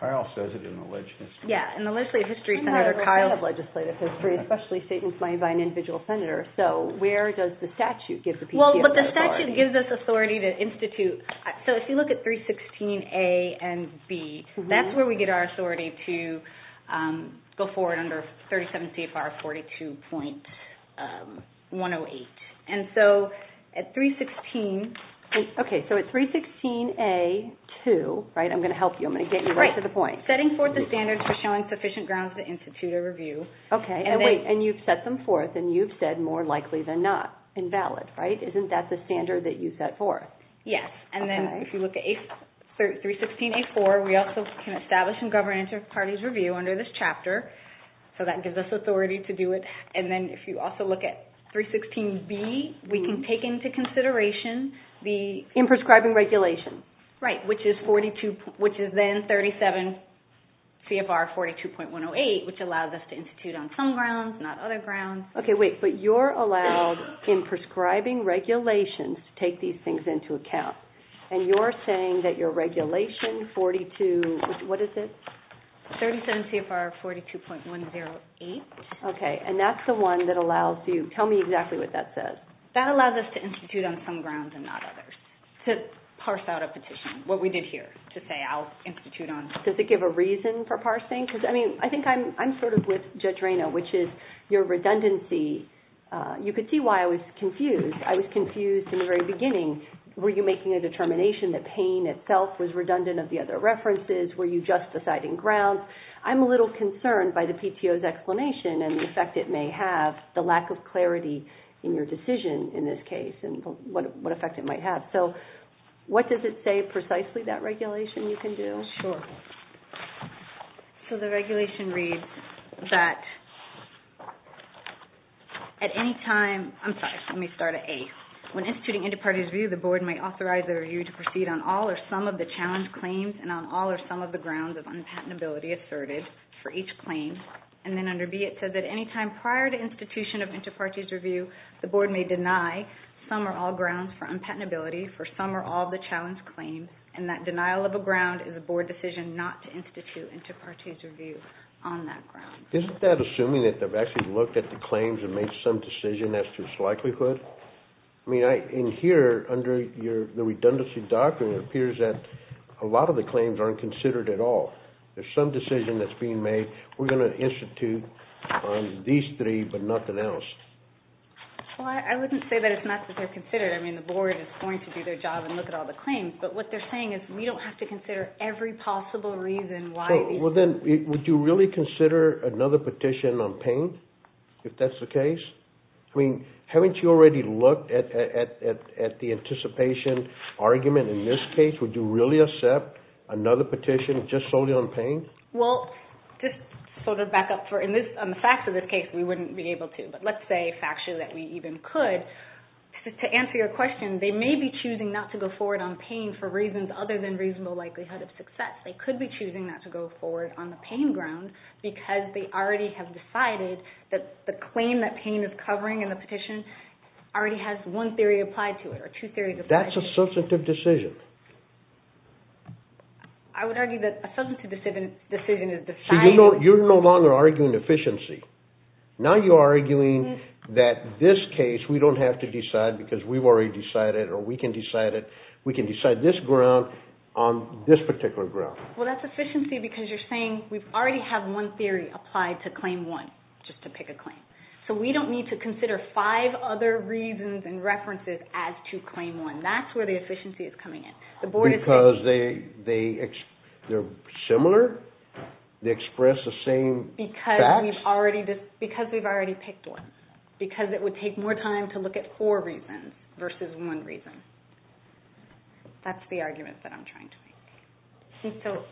Kyle says it in the legislative history. Yeah, in the legislative history, Senator Kyle's legislative history, especially statements made by an individual senator. So where does the statute give the... Well, the statute gives us authority to institute... So if you look at 316A and 316B, that's where we get our authority to go forward under 37 CFR 42.108. And so at 316... Okay, so at 316A-2, I'm going to help you. I'm going to get you right to the point. Setting forth the standards for showing sufficient grounds to institute a review... Okay, and you've set them forth and you've said more likely than not. Invalid, right? Isn't that the standard that you set forth? Yes, and then if you look at 316A-4, we also can establish and govern inter-parties review under this chapter, so that gives us authority to do it. And then if you also look at 316B, we can take into consideration the... Imprescribing regulation. Right, which is then 37 CFR 42.108, which allows us to institute on some grounds, not other grounds. Okay, wait, but you're allowed imprescribing regulations to take these things into account, and you're saying that your regulation 42... What is it? 37 CFR 42.108. Okay, and that's the one that allows you... Tell me exactly what that says. That allows us to institute on some grounds and not others, to parse out a petition, what we did here, to say I'll institute on... Does it give a reason for parsing? Because, I mean, I think I'm sort of with Judge Reyna, which is your redundancy... You could see why I was confused. I was confused in the very beginning. Were you making a determination that pain itself was redundant of the other references? Were you just deciding grounds? I'm a little concerned by the PTO's explanation and the effect it may have, the lack of clarity in your decision, in this case, and what effect it might have. So what does it say precisely, that regulation you can do? Sure. So the regulation reads that at any time... I'm sorry. Let me start at A. When instituting inter-parties review, the board may authorize the review to proceed on all or some of the challenge claims and on all or some of the grounds of unpatentability asserted for each claim. And then under B, it says that any time prior to institution of inter-parties review, the board may deny some or all grounds for unpatentability for some or all of the challenge claims, and that denial of a ground is a board decision not to institute inter-parties review on that ground. Isn't that assuming that they've actually looked at the claims and made some decision as to its likelihood? I mean, in here, under the redundancy doctrine, it appears that a lot of the claims aren't considered at all. There's some decision that's being made. We're going to institute on these three but nothing else. Well, I wouldn't say that it's not that they're considered. I mean, the board is going to do their job and look at all the claims, but what they're saying is we don't have to consider every possible reason why... Well, then, would you really consider another petition on pain if that's the case? I mean, haven't you already looked at the anticipation argument in this case? Would you really accept another petition just solely on pain? Well, just sort of back up for... In the facts of this case, we wouldn't be able to, but let's say factually that we even could. To answer your question, they may be choosing not to go forward on pain for reasons other than reasonable likelihood of success. They could be choosing not to go forward on the pain ground because they already have decided that the claim that pain is covering in the petition already has one theory applied to it or two theories applied to it. That's a substantive decision. I would argue that a substantive decision is deciding... So you're no longer arguing efficiency. Now you're arguing that this case, we don't have to decide because we've already decided or we can decide it. We can decide this ground on this particular ground. Well, that's efficiency because you're saying we already have one theory applied to claim one just to pick a claim. So we don't need to consider five other reasons and references as to claim one. That's where the efficiency is coming in. Because they're similar? They express the same facts? Because we've already picked one. Because it would take more time to look at four reasons versus one reason. That's the argument that I'm trying to make. So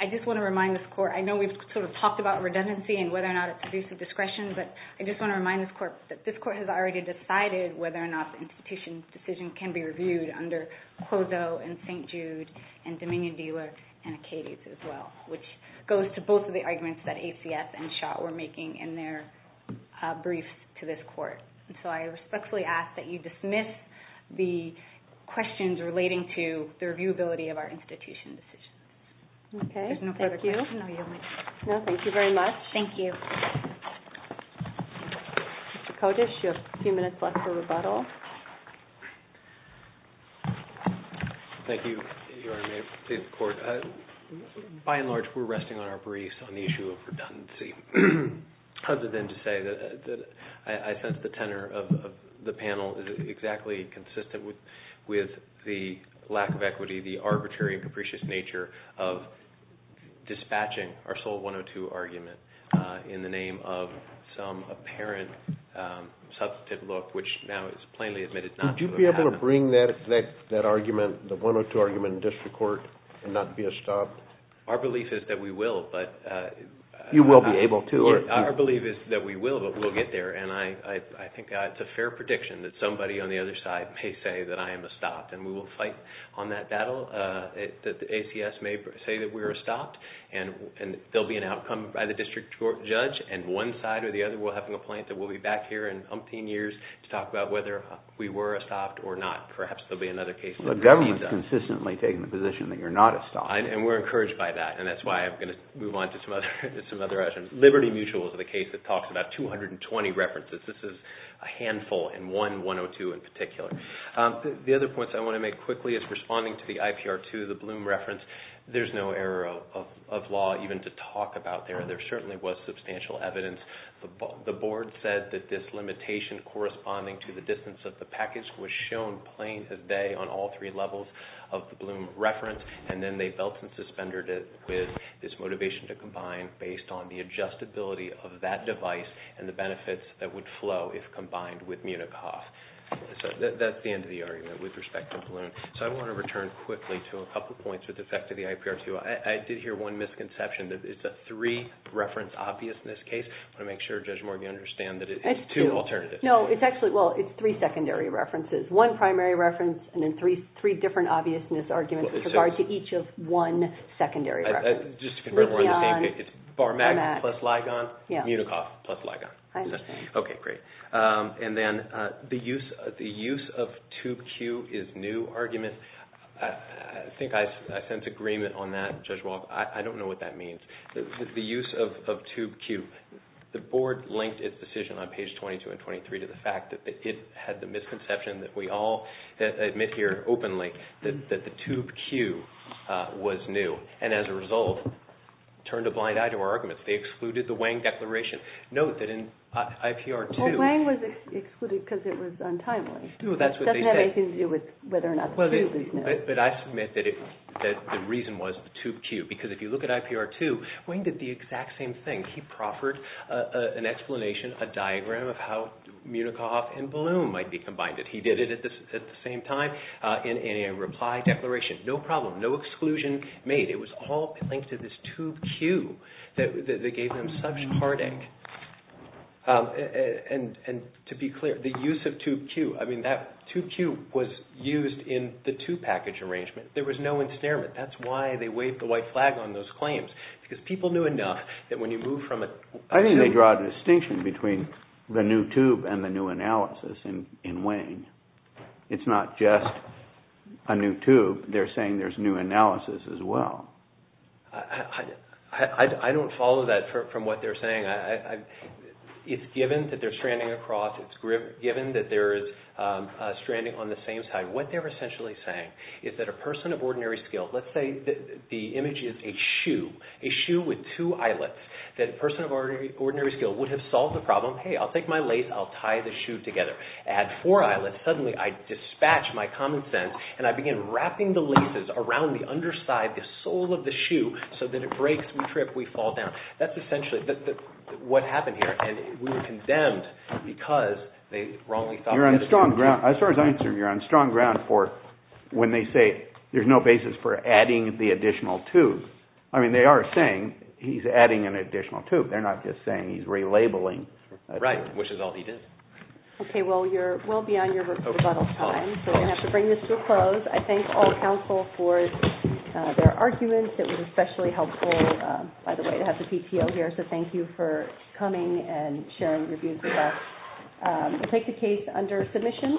I just want to remind this court, I know we've sort of talked about redundancy and whether or not it produces discretion, but I just want to remind this court that this court has already decided whether or not the institution's decision can be reviewed under Clouseau and St. Jude and Dominion-Dealer and Acades as well, which goes to both of the arguments that ACF and Schott were making in their briefs to this court. So I respectfully ask that you dismiss the questions relating to the reviewability of our institution decisions. Okay, thank you. No, thank you very much. Thank you. Mr. Kotisch, you have a few minutes left for rebuttal. Thank you, Your Honor, and may it please the court. By and large, we're resting on our briefs on the issue of redundancy other than to say that I sense the tenor of the panel is exactly consistent with the lack of equity, the arbitrary and capricious nature of dispatching our sole 102 argument in the name of some apparent substantive look, which now is plainly admitted not to have happened. Would you be able to bring that argument, the 102 argument, in district court and not be a stop? Our belief is that we will, but... You will be able to? Our belief is that we will, but we'll get there, and I think it's a fair prediction that somebody on the other side may say that I am a stop, and we will fight on that battle that the ACS may say that we're a stop, and there'll be an outcome by the district court judge, and one side or the other will have a complaint that we'll be back here in umpteen years to talk about whether we were a stop or not. Perhaps there'll be another case... The government's consistently taking the position that you're not a stop. And we're encouraged by that, and that's why I'm going to move on to some other questions. Liberty Mutual is the case that talks about 220 references. This is a handful, and one 102 in particular. The other points I want to make quickly is responding to the IPR-2, the Bloom reference, there's no error of law even to talk about there. There certainly was substantial evidence. The board said that this limitation corresponding to the distance of the package was shown plain as day on all three levels of the Bloom reference, and then they felt and suspended it with this motivation to combine based on the adjustability of that device and the benefits that would flow if combined with Munich-Hoff. So that's the end of the argument with respect to Bloom. So I want to return quickly to a couple of points with respect to the IPR-2. I did hear one misconception that it's a three-reference obviousness case. I want to make sure, Judge Morgan, you understand that it's two alternatives. No, it's actually, well, it's three secondary references. One primary reference and then three different obviousness arguments with regard to each of one secondary reference. Just to confirm we're on the same page, it's Bar-Mag plus Ligon, Munich-Hoff plus Ligon. Okay, great. And then the use of tube Q is new argument. I think I sense agreement on that, Judge Walk. I don't know what that means. The use of tube Q, the board linked its decision on page 22 and 23 to the fact that it had the misconception that we all admit here openly that the tube Q was new, and as a result, turned a blind eye to our arguments. They excluded the Wang Declaration. Note that in IPR-2... Wang was excluded because it was untimely. That's what they said. It doesn't have anything to do with whether or not the tube is new. But I submit that the reason was the tube Q because if you look at IPR-2, Wang did the exact same thing. He proffered an explanation, a diagram of how Munich-Hoff and Balloon might be combined. He did it at the same time in a reply declaration. No problem. No exclusion made. It was all linked to this tube Q that gave them such heartache. And to be clear, the use of tube Q, I mean, that tube Q was used in the two-package arrangement. There was no ensnarement. That's why they waved the white flag on those claims because people knew enough that when you move from a... I think they draw a distinction between the new tube and the new analysis in Wang. It's not just a new tube. They're saying there's new analysis as well. I don't follow that from what they're saying. It's given that they're stranding across. It's given that they're stranding on the same side. What they're essentially saying is that a person of ordinary skill, let's say the image is a shoe, a shoe with two eyelets, that a person of ordinary skill would have solved the problem, hey, I'll take my lace, I'll tie the shoe together. Add four eyelets, suddenly I dispatch my common sense and I begin wrapping the laces around the underside, the sole of the shoe, so that it breaks, we trip, we fall down. That's essentially what happened here, and we were condemned because they wrongly thought... You're on strong ground. As far as I'm concerned, you're on strong ground for when they say there's no basis for adding the additional tube. I mean, they are saying he's adding an additional tube. They're not just saying he's relabeling. Right, which is all he did. Okay, well, you're well beyond your rebuttal time, so we're going to have to bring this to a close. I thank all counsel for their arguments. It was especially helpful, by the way, to have the PPO here, so thank you for coming and sharing your views with us. We'll take the case under submission.